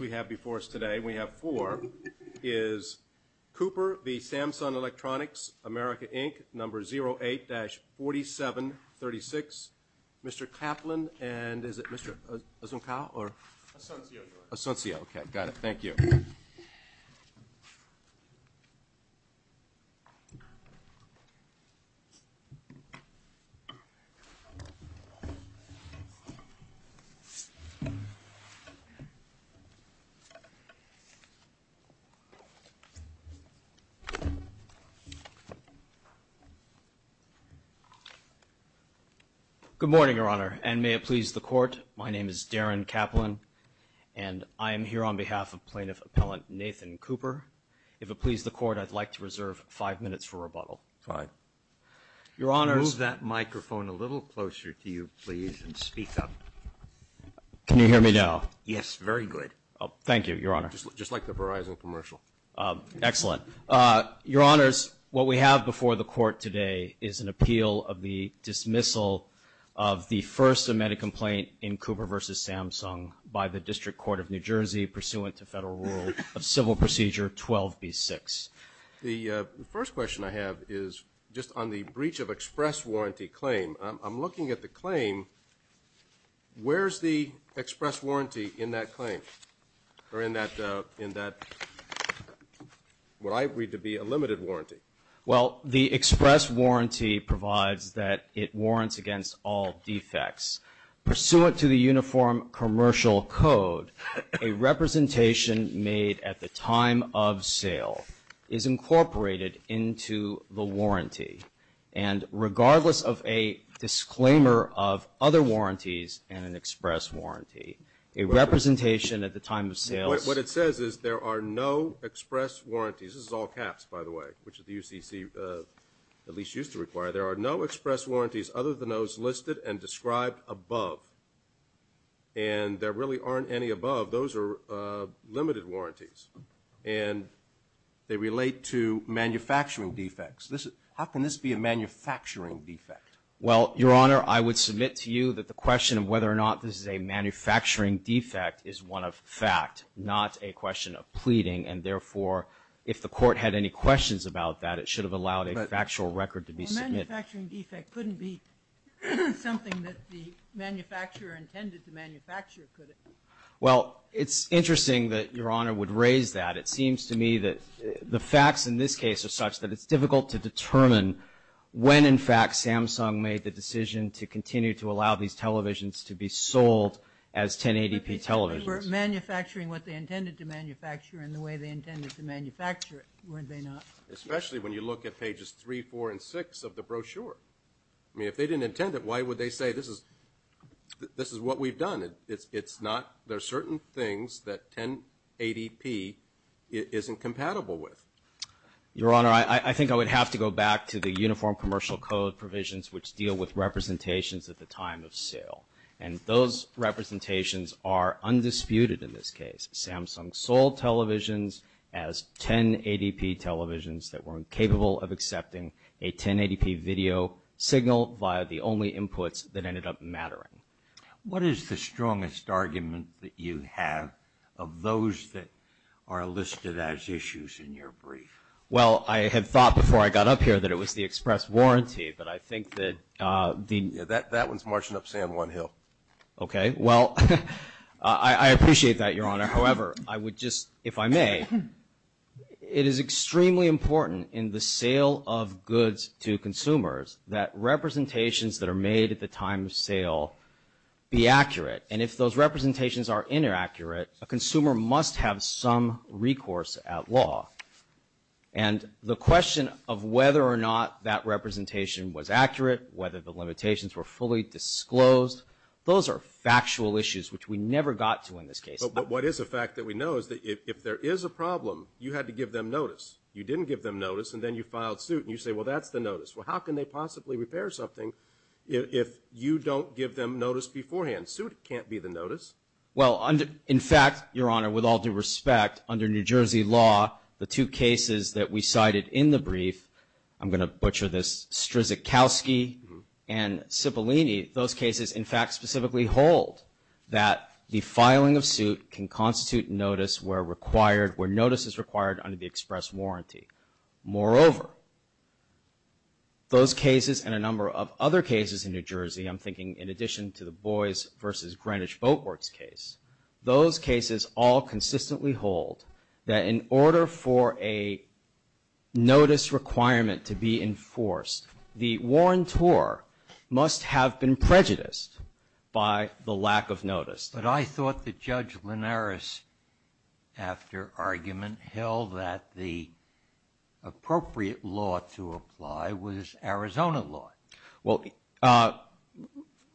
We have before us today, we have four, is Cooper v. Samsung Electronics, America, Inc., number 08-4736. Mr. Kaplan and is it Mr. Asuncio or? Asuncio. Asuncio. Okay, got it. Thank you. Good morning, Your Honor, and may it please the Court, my name is Darren Kaplan, and I am here on behalf of Plaintiff Appellant Nathan Cooper. If it please the Court, I'd like to reserve five minutes for rebuttal. Your Honor, move that microphone a little closer to you, please, and speak up. Can you hear me now? Yes, very good. Thank you, Your Honor. Just like the Verizon commercial. Excellent. Your Honor, what we have before the Court today is an appeal of the dismissal of the first amended complaint in Cooper v. Samsung by the District Court of New Jersey pursuant to Federal Rule of Civil Procedure 12B6. The first question I have is just on the breach of express warranty claim. I'm looking at the claim. Where's the express warranty in that claim or in that, what I read to be a limited warranty? Well, the express warranty provides that it warrants against all defects. Pursuant to the Uniform Commercial Code, a representation made at the time of sale is incorporated into the warranty, and regardless of a disclaimer of other warranties and an express warranty, a representation at the time of sale. What it says is there are no express warranties. This is all caps, by the way, which the UCC at least used to require. There are no express warranties other than those listed and described above. And there really aren't any above. Those are limited warranties. And they relate to manufacturing defects. How can this be a manufacturing defect? Well, Your Honor, I would submit to you that the question of whether or not this is a manufacturing defect is one of fact, not a question of pleading. And therefore, if the Court had any questions about that, it should have allowed a factual record to be submitted. A manufacturing defect couldn't be something that the manufacturer intended to manufacture, could it? Well, it's interesting that Your Honor would raise that. It seems to me that the facts in this case are such that it's difficult to determine when, in fact, Samsung made the decision to continue to allow these televisions to be sold as 1080p televisions. They were manufacturing what they intended to manufacture in the way they intended to manufacture it, weren't they not? Especially when you look at pages 3, 4, and 6 of the brochure. I mean, if they didn't intend it, why would they say this is what we've done? It's not – there are certain things that 1080p isn't compatible with. Your Honor, I think I would have to go back to the Uniform Commercial Code provisions which deal with representations at the time of sale. And those representations are undisputed in this case. Samsung sold televisions as 1080p televisions that were incapable of accepting a 1080p video signal via the only inputs that ended up mattering. What is the strongest argument that you have of those that are listed as issues in your brief? Well, I had thought before I got up here that it was the express warranty, but I think that the – Yeah, that one's marching up San Juan Hill. Okay. Well, I appreciate that, Your Honor. However, I would just – if I may, it is extremely important in the sale of goods to consumers that representations that are made at the time of sale be accurate. And if those representations are inaccurate, a consumer must have some recourse at law. And the question of whether or not that representation was accurate, whether the limitations were fully disclosed, those are factual issues which we never got to in this case. But what is a fact that we know is that if there is a problem, you had to give them notice. You didn't give them notice, and then you filed suit, and you say, well, that's the notice. Well, how can they possibly repair something if you don't give them notice beforehand? Suit can't be the notice. Well, in fact, Your Honor, with all due respect, under New Jersey law, the two cases that we cited in the brief – I'm going to butcher this – Strzokowski and Cipollini – those cases, in fact, specifically hold that the filing of suit can constitute notice where required – where notice is required under the express warranty. Moreover, those cases and a number of other cases in New Jersey – I'm thinking in addition to the Boies v. Greenwich Boat Works case – those cases all consistently hold that in order for a notice requirement to be enforced, the warrantor must have been prejudiced by the lack of notice. But I thought that Judge Linares, after argument, held that the appropriate law to apply was Arizona law. Well,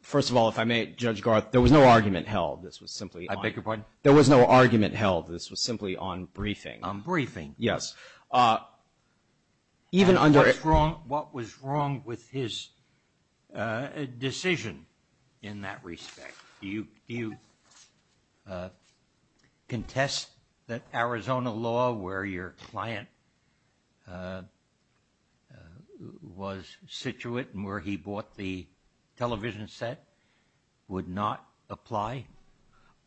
first of all, if I may, Judge Garth, there was no argument held. I beg your pardon? There was no argument held. This was simply on briefing. On briefing. Yes. Even under – What was wrong with his decision in that respect? Do you contest that Arizona law, where your client was situated and where he bought the television set, would not apply?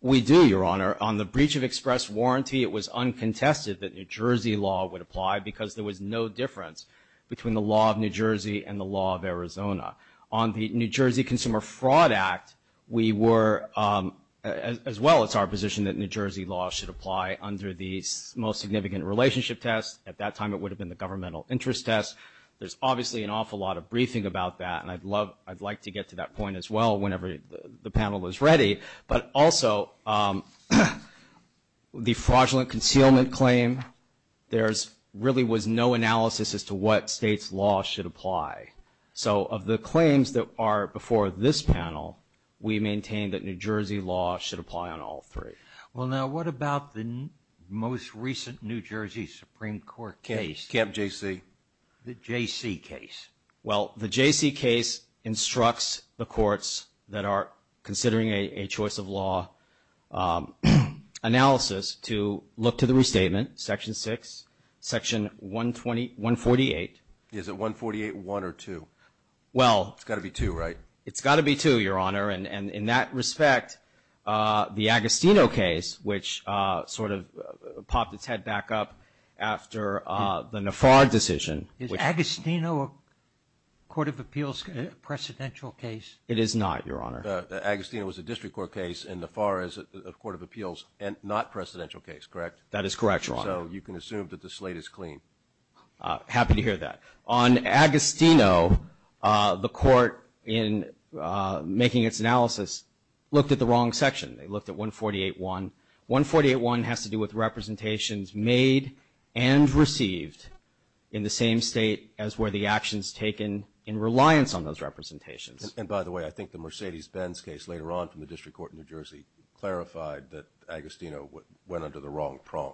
We do, Your Honor. On the breach of express warranty, it was uncontested that New Jersey law would apply because there was no difference between the law of New Jersey and the law of Arizona. On the New Jersey Consumer Fraud Act, we were – as well, it's our position that New Jersey law should apply under the most significant relationship test. At that time, it would have been the governmental interest test. There's obviously an awful lot of briefing about that, and I'd love – I'd like to get to that point as well whenever the panel is ready. But also, the fraudulent concealment claim, there really was no analysis as to what state's law should apply. So of the claims that are before this panel, we maintain that New Jersey law should apply on all three. Well, now, what about the most recent New Jersey Supreme Court case? Camp JC. The JC case. Well, the JC case instructs the courts that are considering a choice of law analysis to look to the restatement, Section 6, Section 148. Is it 148.1 or 2? Well – It's got to be 2, right? It's got to be 2, Your Honor. And in that respect, the Agostino case, which sort of popped its head back up after the Nafar decision – Is Agostino a Court of Appeals precedential case? It is not, Your Honor. Agostino is a District Court case, and Nafar is a Court of Appeals not precedential case, correct? That is correct, Your Honor. So you can assume that the slate is clean. Happy to hear that. On Agostino, the court, in making its analysis, looked at the wrong section. They looked at 148.1. 148.1 has to do with representations made and received in the same state as were the actions taken in reliance on those representations. And by the way, I think the Mercedes-Benz case later on from the District Court in New Jersey clarified that Agostino went under the wrong prong.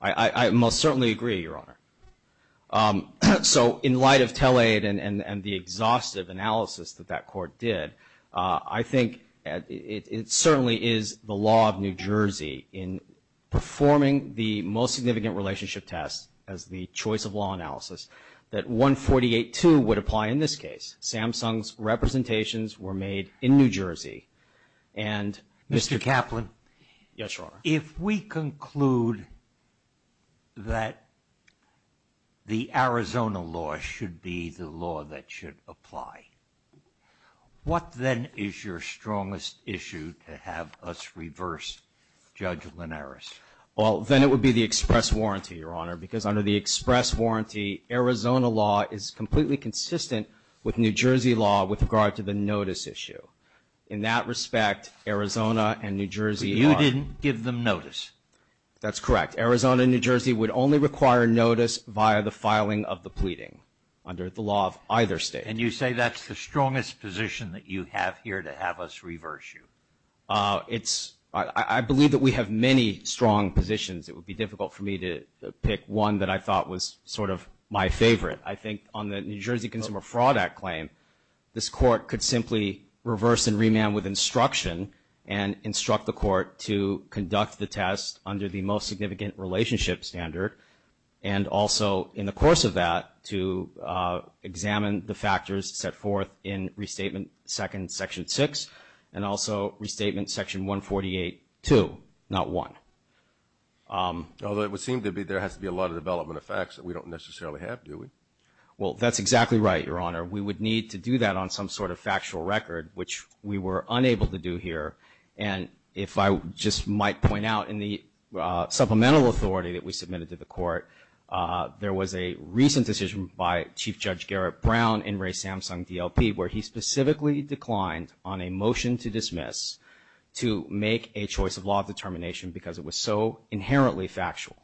I most certainly agree, Your Honor. So in light of tell-aid and the exhaustive analysis that that court did, I think it certainly is the law of New Jersey in performing the most significant relationship test as the choice of law analysis that 148.2 would apply in this case. Samsung's representations were made in New Jersey. Mr. Kaplan. Yes, Your Honor. If we conclude that the Arizona law should be the law that should apply, what then is your strongest issue to have us reverse Judge Linares? Well, then it would be the express warranty, Your Honor, because under the express warranty, Arizona law is completely consistent with New Jersey law with regard to the notice issue. In that respect, Arizona and New Jersey are That's correct. Arizona and New Jersey would only require notice via the filing of the pleading under the law of either state. And you say that's the strongest position that you have here to have us reverse you? I believe that we have many strong positions. It would be difficult for me to pick one that I thought was sort of my favorite. I think on the New Jersey Consumer Fraud Act claim, this court could simply reverse and remand with instruction and instruct the court to conduct the test under the most significant relationship standard and also in the course of that to examine the factors set forth in Restatement 2nd, Section 6, and also Restatement Section 148.2, not 1. Although it would seem to be there has to be a lot of development of facts that we don't necessarily have, do we? Well, that's exactly right, Your Honor. We would need to do that on some sort of factual record, which we were unable to do here. And if I just might point out in the supplemental authority that we submitted to the court, there was a recent decision by Chief Judge Garrett Brown in Ray Samsung DLP where he specifically declined on a motion to dismiss to make a choice of law of determination because it was so inherently factual.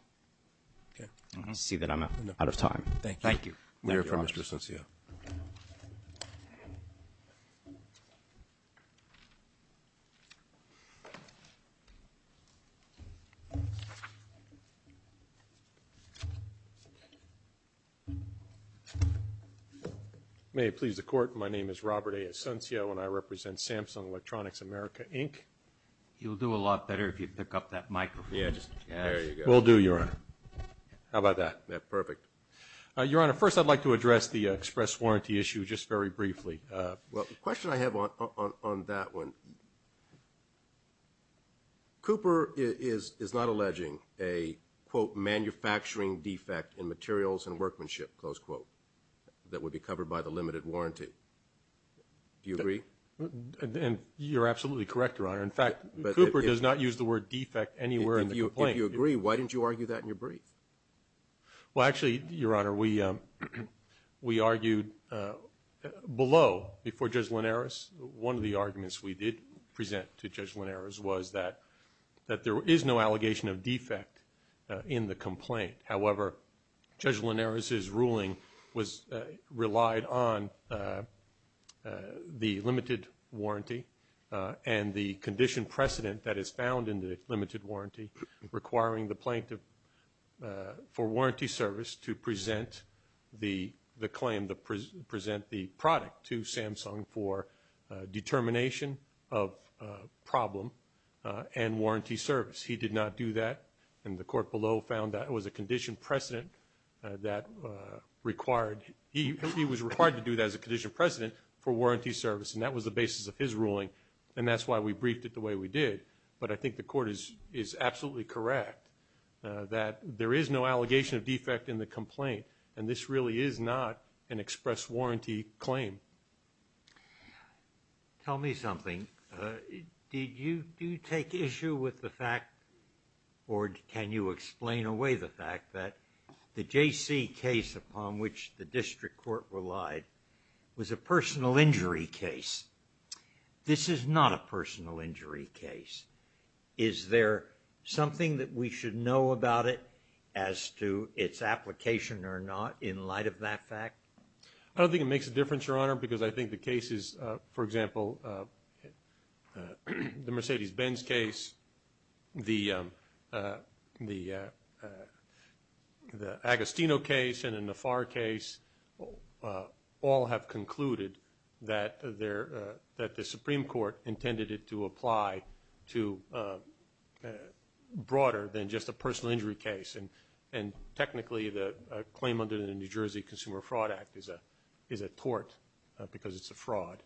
Okay. I see that I'm out of time. Thank you. Thank you, Mr. Asuncio. May it please the Court. My name is Robert A. Asuncio, and I represent Samsung Electronics America, Inc. You'll do a lot better if you pick up that microphone. Yeah, there you go. Will do, Your Honor. How about that? Perfect. Your Honor, first I'd like to address the express warranty issue just very briefly. Well, the question I have on that one, Cooper is not alleging a, quote, Do you agree? And you're absolutely correct, Your Honor. In fact, Cooper does not use the word defect anywhere in the complaint. If you agree, why didn't you argue that in your brief? Well, actually, Your Honor, we argued below before Judge Linares. One of the arguments we did present to Judge Linares was that there is no allegation of defect in the complaint. However, Judge Linares' ruling relied on the limited warranty and the condition precedent that is found in the limited warranty requiring the plaintiff for warranty service to present the claim, present the product to Samsung for determination of problem and warranty service. He did not do that. And the court below found that it was a condition precedent that required, he was required to do that as a condition precedent for warranty service, and that was the basis of his ruling. And that's why we briefed it the way we did. But I think the court is absolutely correct that there is no allegation of defect in the complaint, and this really is not an express warranty claim. Tell me something. Did you take issue with the fact, or can you explain away the fact, that the J.C. case upon which the district court relied was a personal injury case? This is not a personal injury case. Is there something that we should know about it as to its application or not in light of that fact? I don't think it makes a difference, Your Honor, because I think the cases, for example, the Mercedes-Benz case, the Agostino case, and the Nafar case, all have concluded that the Supreme Court intended it to apply to broader than just a personal injury case. And technically, the claim under the New Jersey Consumer Fraud Act is a tort because it's a fraud.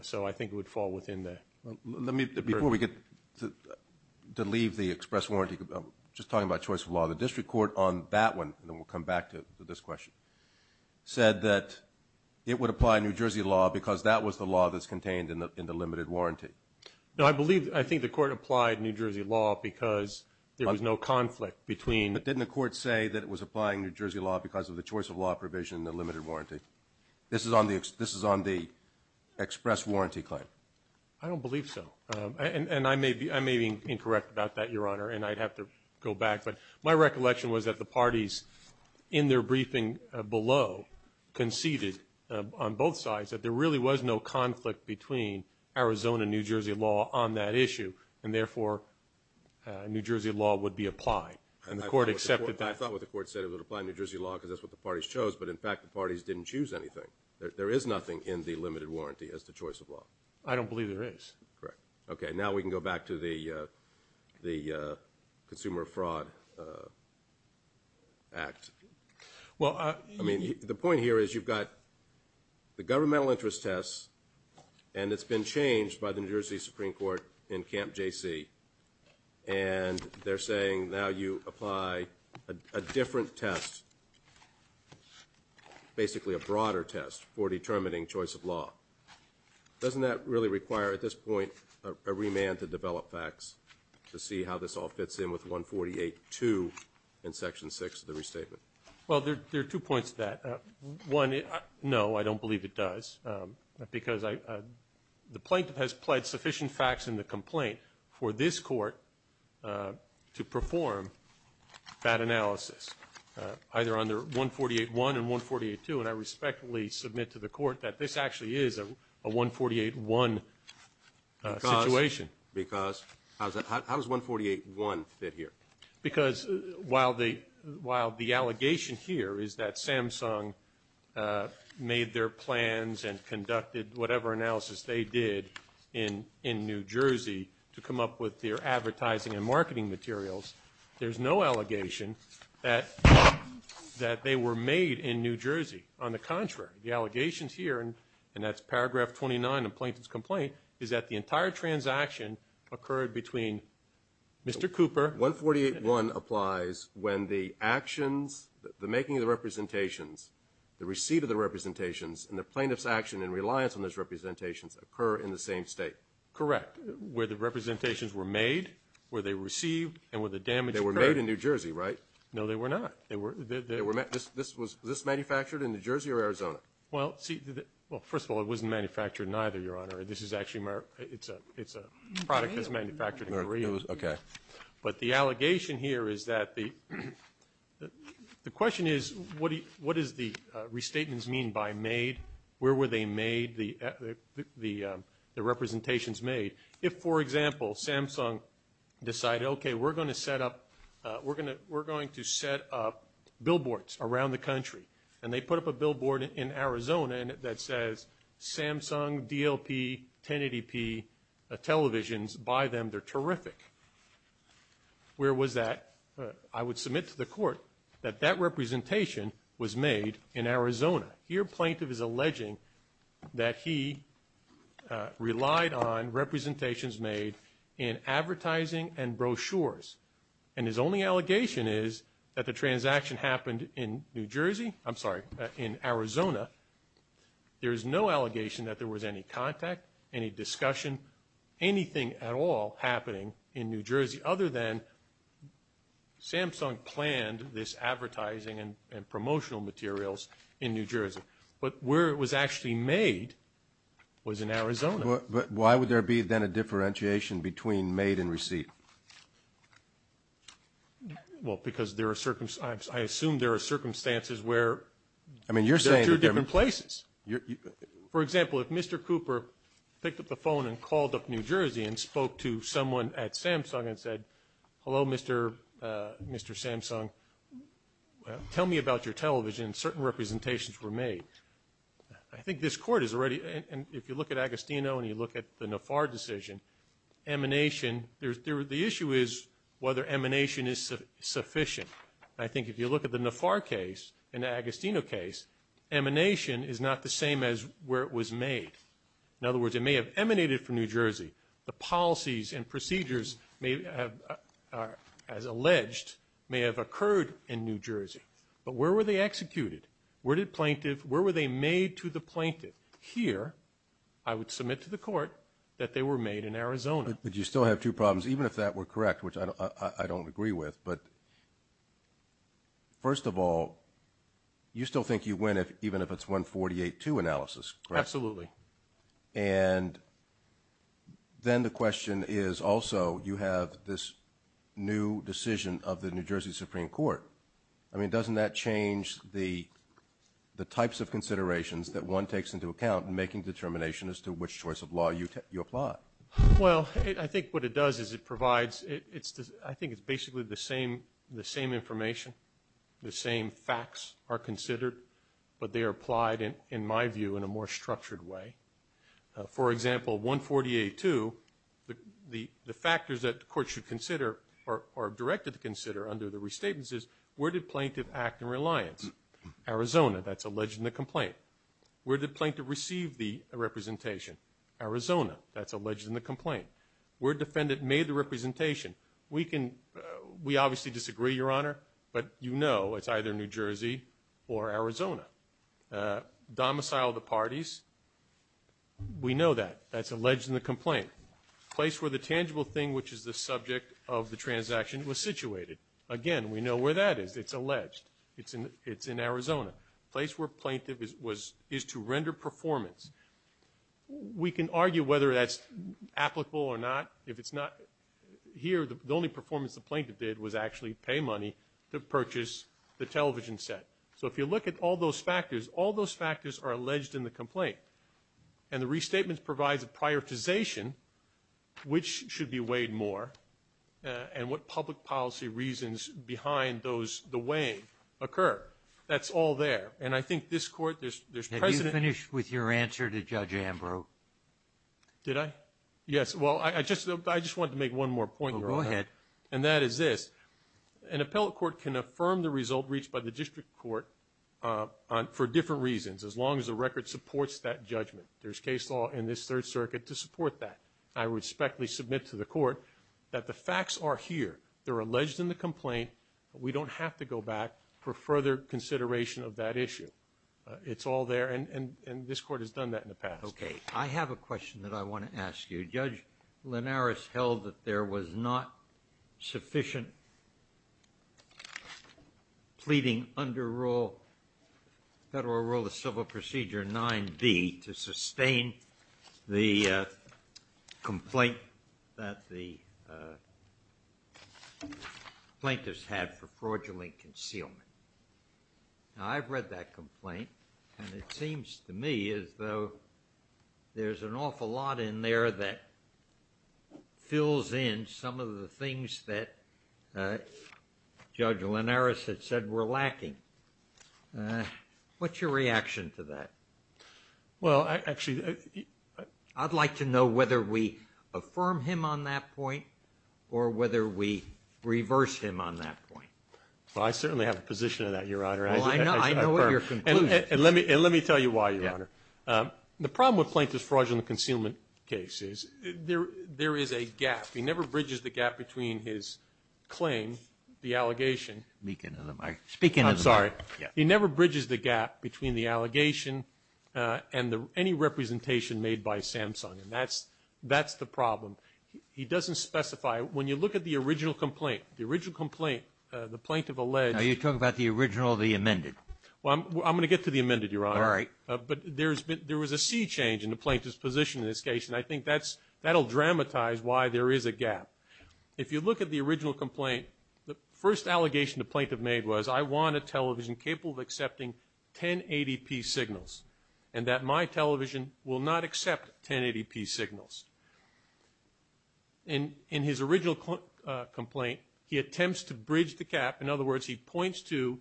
So I think it would fall within the burden. Before we get to leave the express warranty, just talking about choice of law, the district court on that one, and then we'll come back to this question, said that it would apply New Jersey law because that was the law that's contained in the limited warranty. No, I believe, I think the court applied New Jersey law because there was no conflict between. But didn't the court say that it was applying New Jersey law because of the choice of law provision in the limited warranty? This is on the express warranty claim. I don't believe so. And I may be incorrect about that, Your Honor, and I'd have to go back. But my recollection was that the parties in their briefing below conceded on both sides that there really was no conflict between Arizona and New Jersey law on that issue, and therefore New Jersey law would be applied. And the court accepted that. I thought what the court said, it would apply New Jersey law because that's what the parties chose. But, in fact, the parties didn't choose anything. There is nothing in the limited warranty as to choice of law. I don't believe there is. Correct. Okay, now we can go back to the Consumer Fraud Act. Well, I mean, the point here is you've got the governmental interest test, and it's been changed by the New Jersey Supreme Court in Camp JC, and they're saying now you apply a different test, basically a broader test, for determining choice of law. Doesn't that really require at this point a remand to develop facts to see how this all fits in with 148-2 in Section 6 of the restatement? Well, there are two points to that. One, no, I don't believe it does, because the plaintiff has pled sufficient facts in the complaint for this court to perform that analysis, either under 148-1 and 148-2, and I respectfully submit to the court that this actually is a 148-1 situation. Because how does 148-1 fit here? Because while the allegation here is that Samsung made their plans and conducted whatever analysis they did in New Jersey to come up with their advertising and marketing materials, there's no allegation that they were made in New Jersey. On the contrary, the allegations here, and that's paragraph 29 of the plaintiff's complaint, is that the entire transaction occurred between Mr. Cooper. 148-1 applies when the actions, the making of the representations, the receipt of the representations, and the plaintiff's action in reliance on those representations occur in the same state. Correct. Where the representations were made, where they were received, and where the damage occurred. They were made in New Jersey, right? No, they were not. This was manufactured in New Jersey or Arizona? Well, first of all, it wasn't manufactured in either, Your Honor. This is actually a product that's manufactured in Korea. Okay. But the allegation here is that the question is, what does the restatements mean by made? Where were they made, the representations made? If, for example, Samsung decided, okay, we're going to set up billboards around the country, and they put up a billboard in Arizona that says Samsung DLP 1080p televisions. Buy them. They're terrific. Where was that? I would submit to the court that that representation was made in Arizona. Your plaintiff is alleging that he relied on representations made in advertising and brochures, and his only allegation is that the transaction happened in New Jersey. I'm sorry, in Arizona. There is no allegation that there was any contact, any discussion, anything at all happening in New Jersey other than Samsung planned this advertising and promotional materials in New Jersey. But why would there be then a differentiation between made and receipt? Well, because I assume there are circumstances where they're two different places. For example, if Mr. Cooper picked up the phone and called up New Jersey and spoke to someone at Samsung and said, hello, Mr. Samsung, tell me about your television, certain representations were made. I think this court is already, if you look at Agostino and you look at the Nafar decision, emanation, the issue is whether emanation is sufficient. I think if you look at the Nafar case and the Agostino case, emanation is not the same as where it was made. In other words, it may have emanated from New Jersey. The policies and procedures, as alleged, may have occurred in New Jersey. But where were they executed? Where were they made to the plaintiff? Here, I would submit to the court that they were made in Arizona. But you still have two problems, even if that were correct, which I don't agree with. But first of all, you still think you win even if it's 148-2 analysis, correct? Absolutely. And then the question is also you have this new decision of the New Jersey Supreme Court. I mean, doesn't that change the types of considerations that one takes into account in making determination as to which choice of law you apply? Well, I think what it does is it provides, I think it's basically the same information, the same facts are considered, but they are applied, in my view, in a more structured way. For example, 148-2, the factors that the court should consider or are directed to consider under the restatements is where did the plaintiff act in reliance? Arizona. That's alleged in the complaint. Where did the plaintiff receive the representation? Arizona. That's alleged in the complaint. Where did the defendant make the representation? We obviously disagree, Your Honor, but you know it's either New Jersey or Arizona. Domiciled the parties. We know that. That's alleged in the complaint. Place where the tangible thing, which is the subject of the transaction, was situated. Again, we know where that is. It's alleged. It's in Arizona. Place where plaintiff is to render performance. We can argue whether that's applicable or not. If it's not, here the only performance the plaintiff did was actually pay money to purchase the television set. So if you look at all those factors, all those factors are alleged in the complaint, and the restatement provides a prioritization, which should be weighed more, and what public policy reasons behind the weighing occur. That's all there. And I think this Court, there's precedent. Have you finished with your answer to Judge Ambrose? Did I? Yes. Well, I just wanted to make one more point, Your Honor. Go ahead. And that is this. An appellate court can affirm the result reached by the district court for different reasons, as long as the record supports that judgment. There's case law in this Third Circuit to support that. I respectfully submit to the Court that the facts are here. They're alleged in the complaint. We don't have to go back for further consideration of that issue. It's all there, and this Court has done that in the past. Okay. I have a question that I want to ask you. Judge Linares held that there was not sufficient pleading under Federal Rule of Civil Procedure 9B to sustain the complaint that the plaintiffs had for fraudulent concealment. Now, I've read that complaint, and it seems to me as though there's an awful lot in there that fills in some of the things that Judge Linares had said were lacking. What's your reaction to that? Well, actually, I'd like to know whether we affirm him on that point or whether we reverse him on that point. Well, I certainly have a position on that, Your Honor. Well, I know what your conclusion is. And let me tell you why, Your Honor. The problem with plaintiff's fraudulent concealment case is there is a gap. He never bridges the gap between his claim, the allegation. Speak into the mic. I'm sorry. He never bridges the gap between the allegation and any representation made by Samsung, and that's the problem. He doesn't specify. When you look at the original complaint, the original complaint, the plaintiff alleged. Now, you're talking about the original or the amended. Well, I'm going to get to the amended, Your Honor. All right. But there was a sea change in the plaintiff's position in this case, and I think that'll dramatize why there is a gap. If you look at the original complaint, the first allegation the plaintiff made was, I want a television capable of accepting 1080p signals and that my television will not accept 1080p signals. In his original complaint, he attempts to bridge the gap. In other words, he points to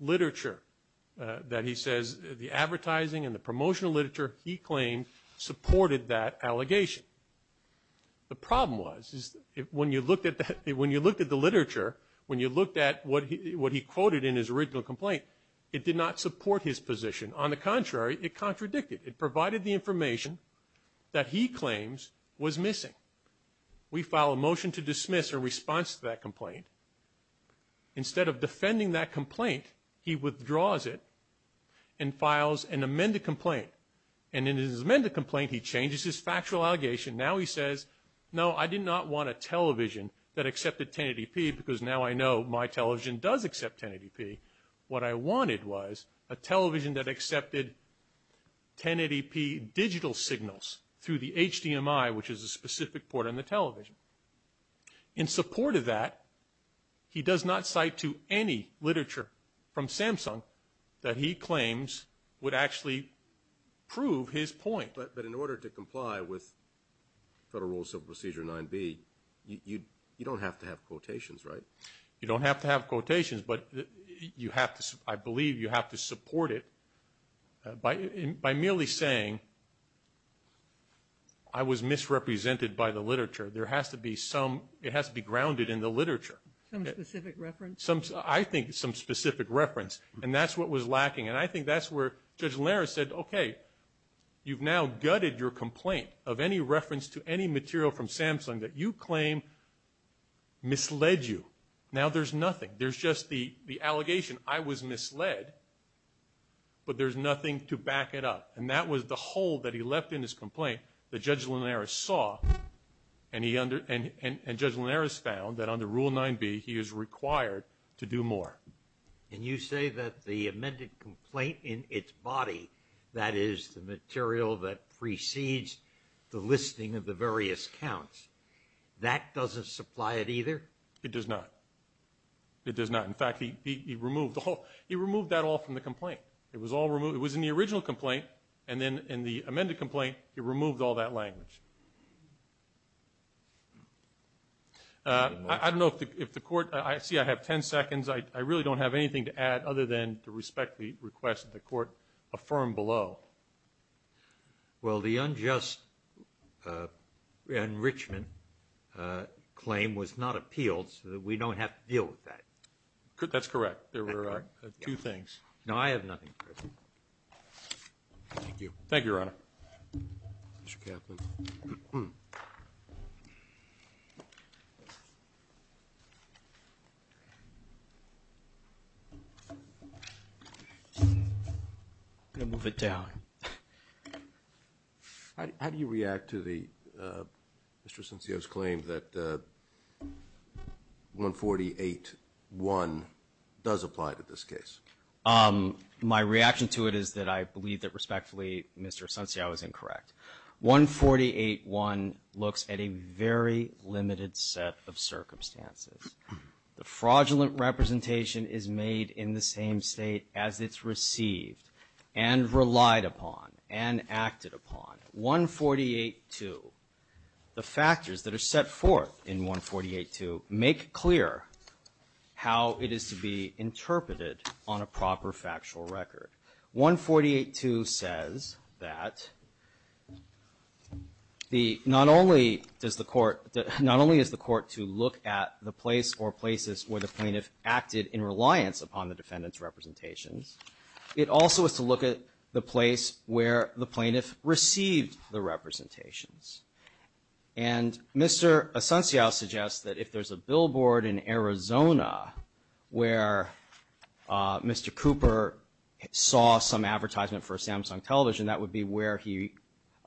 literature that he says the advertising and the promotional literature he claimed supported that allegation. The problem was when you looked at the literature, when you looked at what he quoted in his original complaint, it did not support his position. On the contrary, it contradicted. It provided the information that he claims was missing. We file a motion to dismiss or response to that complaint. Instead of defending that complaint, he withdraws it and files an amended complaint. And in his amended complaint, he changes his factual allegation. Now he says, no, I did not want a television that accepted 1080p because now I know my television does accept 1080p. What I wanted was a television that accepted 1080p digital signals through the HDMI, which is a specific port on the television. In support of that, he does not cite to any literature from Samsung that he claims would actually prove his point. But in order to comply with Federal Rules of Procedure 9B, you don't have to have quotations, right? You don't have to have quotations, but you have to, I believe you have to support it by merely saying, I was misrepresented by the literature. There has to be some, it has to be grounded in the literature. Some specific reference? I think some specific reference. And that's what was lacking. And I think that's where Judge Lehrer said, okay, you've now gutted your complaint of any reference to any material from Samsung that you claim misled you. Now there's nothing. There's just the allegation, I was misled, but there's nothing to back it up. And that was the hole that he left in his complaint that Judge Linares saw, and Judge Linares found that under Rule 9B he is required to do more. And you say that the amended complaint in its body, that is the material that precedes the listing of the various counts, that doesn't supply it either? It does not. It does not. In fact, he removed that all from the complaint. It was in the original complaint, and then in the amended complaint he removed all that language. I don't know if the Court – see, I have ten seconds. I really don't have anything to add other than to respect the request that the Court affirm below. Well, the unjust enrichment claim was not appealed, so we don't have to deal with that. That's correct. There were two things. No, I have nothing. Thank you. Thank you, Your Honor. Mr. Kaplan. Thank you. I'm going to move it down. How do you react to Mr. Asuncio's claim that 148-1 does apply to this case? My reaction to it is that I believe that respectfully Mr. Asuncio is incorrect. 148-1 looks at a very limited set of circumstances. The fraudulent representation is made in the same state as it's received and relied upon and acted upon. 148-2, the factors that are set forth in 148-2 make clear how it is to be interpreted on a proper factual record. 148-2 says that not only is the Court to look at the place or places where the plaintiff acted in reliance upon the defendant's representations, it also is to look at the place where the plaintiff received the representations. And Mr. Asuncio suggests that if there's a billboard in Arizona where Mr. Cooper saw some advertisement for a Samsung television, that would be where he received the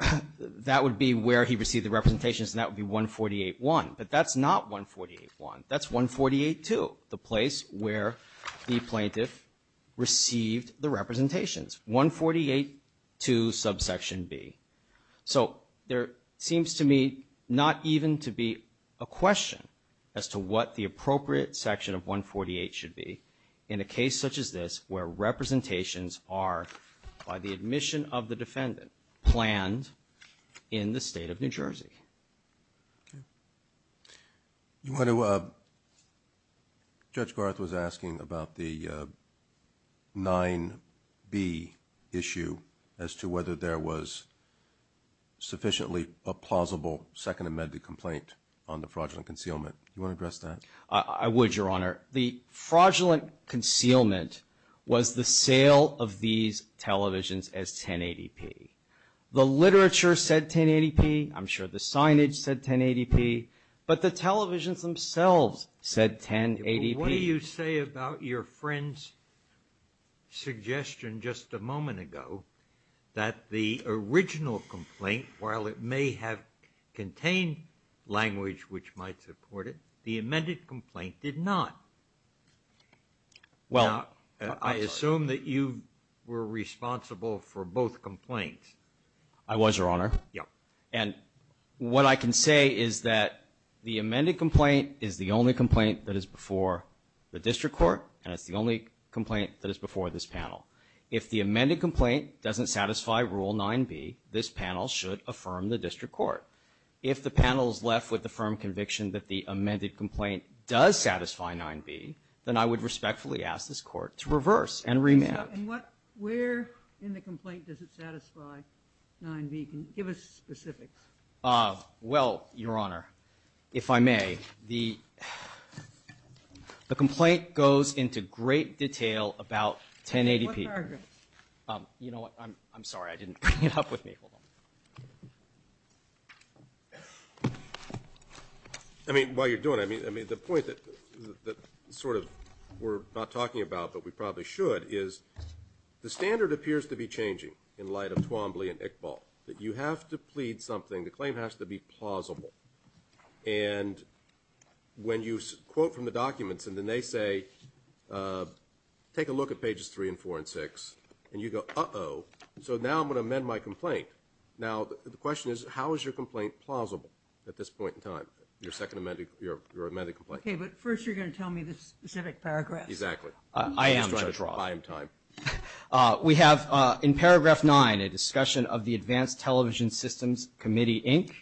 representations, and that would be 148-1. But that's not 148-1. That's 148-2, the place where the plaintiff received the representations. 148-2, subsection B. So there seems to me not even to be a question as to what the appropriate section of 148 should be in a case such as this where representations are, by the admission of the defendant, planned in the state of New Jersey. Okay. You want to, Judge Garth was asking about the 9B issue as to whether there was sufficiently a plausible second amended complaint on the fraudulent concealment. Do you want to address that? I would, Your Honor. The fraudulent concealment was the sale of these televisions as 1080p. The literature said 1080p. I'm sure the signage said 1080p. But the televisions themselves said 1080p. What do you say about your friend's suggestion just a moment ago that the original complaint, while it may have contained language which might support it, the amended complaint did not? Well, I'm sorry. I assume that you were responsible for both complaints. I was, Your Honor. Yeah. And what I can say is that the amended complaint is the only complaint that is before the district court, and it's the only complaint that is before this panel. If the amended complaint doesn't satisfy Rule 9B, this panel should affirm the district court. If the panel is left with the firm conviction that the amended complaint does satisfy 9B, then I would respectfully ask this Court to reverse and remand. Where in the complaint does it satisfy 9B? Give us specifics. Well, Your Honor, if I may, the complaint goes into great detail about 1080p. What paragraph? You know what? I'm sorry. I didn't bring it up with me. Hold on. I mean, while you're doing it, I mean, the point that sort of we're not talking about but we probably should is the standard appears to be changing in light of Twombly and Iqbal, that you have to plead something. The claim has to be plausible. And when you quote from the documents and then they say, take a look at pages 3 and 4 and 6, and you go, uh-oh. So now I'm going to amend my complaint. Now, the question is, how is your complaint plausible at this point in time, your second amended complaint? Okay, but first you're going to tell me the specific paragraph. Exactly. I am time. We have in paragraph 9 a discussion of the Advanced Television Systems Committee, Inc.,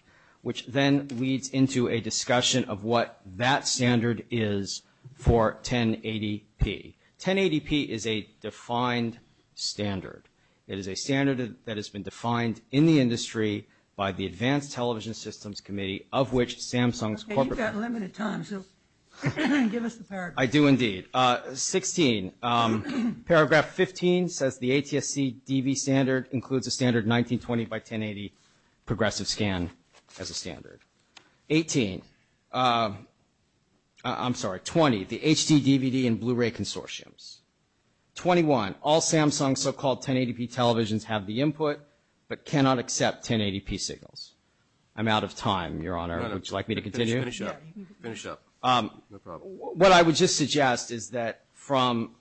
which then leads into a discussion of what that standard is for 1080p. 1080p is a defined standard. It is a standard that has been defined in the industry by the Advanced Television Systems Committee, of which Samsung is corporate. Okay, you've got limited time, so give us the paragraph. I do indeed. 16, paragraph 15 says the ATSC DV standard includes a standard 1920x1080 progressive scan as a standard. 18, I'm sorry, 20, the HD, DVD, and Blu-ray consortiums. 21, all Samsung so-called 1080p televisions have the input but cannot accept 1080p signals. I'm out of time, Your Honor. Would you like me to continue? Finish up. Finish up. No problem. What I would just suggest is that from,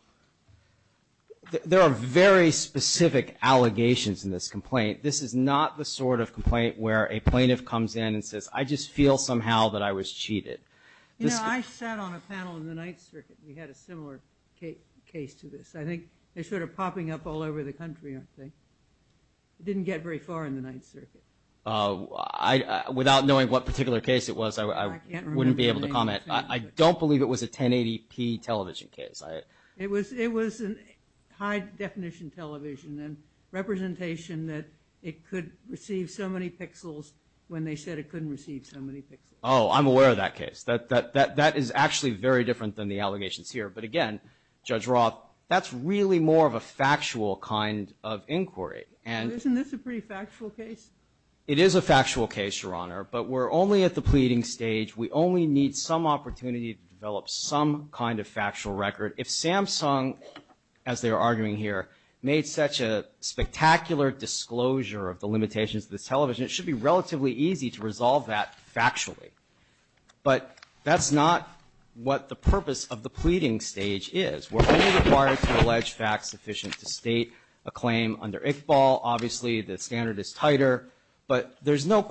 there are very specific allegations in this complaint. This is not the sort of complaint where a plaintiff comes in and says, I just feel somehow that I was cheated. You know, I sat on a panel in the Ninth Circuit. We had a similar case to this. I think they're sort of popping up all over the country, aren't they? It didn't get very far in the Ninth Circuit. Without knowing what particular case it was, I wouldn't be able to comment. I don't believe it was a 1080p television case. It was high-definition television and representation that it could receive so many pixels when they said it couldn't receive so many pixels. Oh, I'm aware of that case. That is actually very different than the allegations here. But, again, Judge Roth, that's really more of a factual kind of inquiry. Isn't this a pretty factual case? It is a factual case, Your Honor, but we're only at the pleading stage. We only need some opportunity to develop some kind of factual record. If Samsung, as they're arguing here, made such a spectacular disclosure of the limitations of this television, it should be relatively easy to resolve that factually. But that's not what the purpose of the pleading stage is. We're only required to allege facts sufficient to state a claim under ICBAL. Obviously, the standard is tighter. But there's no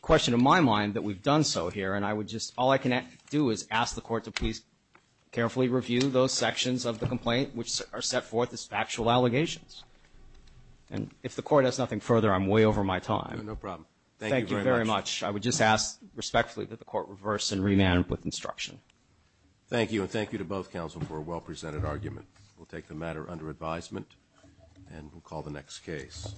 question in my mind that we've done so here, and all I can do is ask the court to please carefully review those sections of the complaint which are set forth as factual allegations. And if the court has nothing further, I'm way over my time. No problem. Thank you very much. Thank you very much. I would just ask respectfully that the court reverse and remand with instruction. Thank you, and thank you to both counsel for a well-presented argument. We'll take the matter under advisement, and we'll call the next case.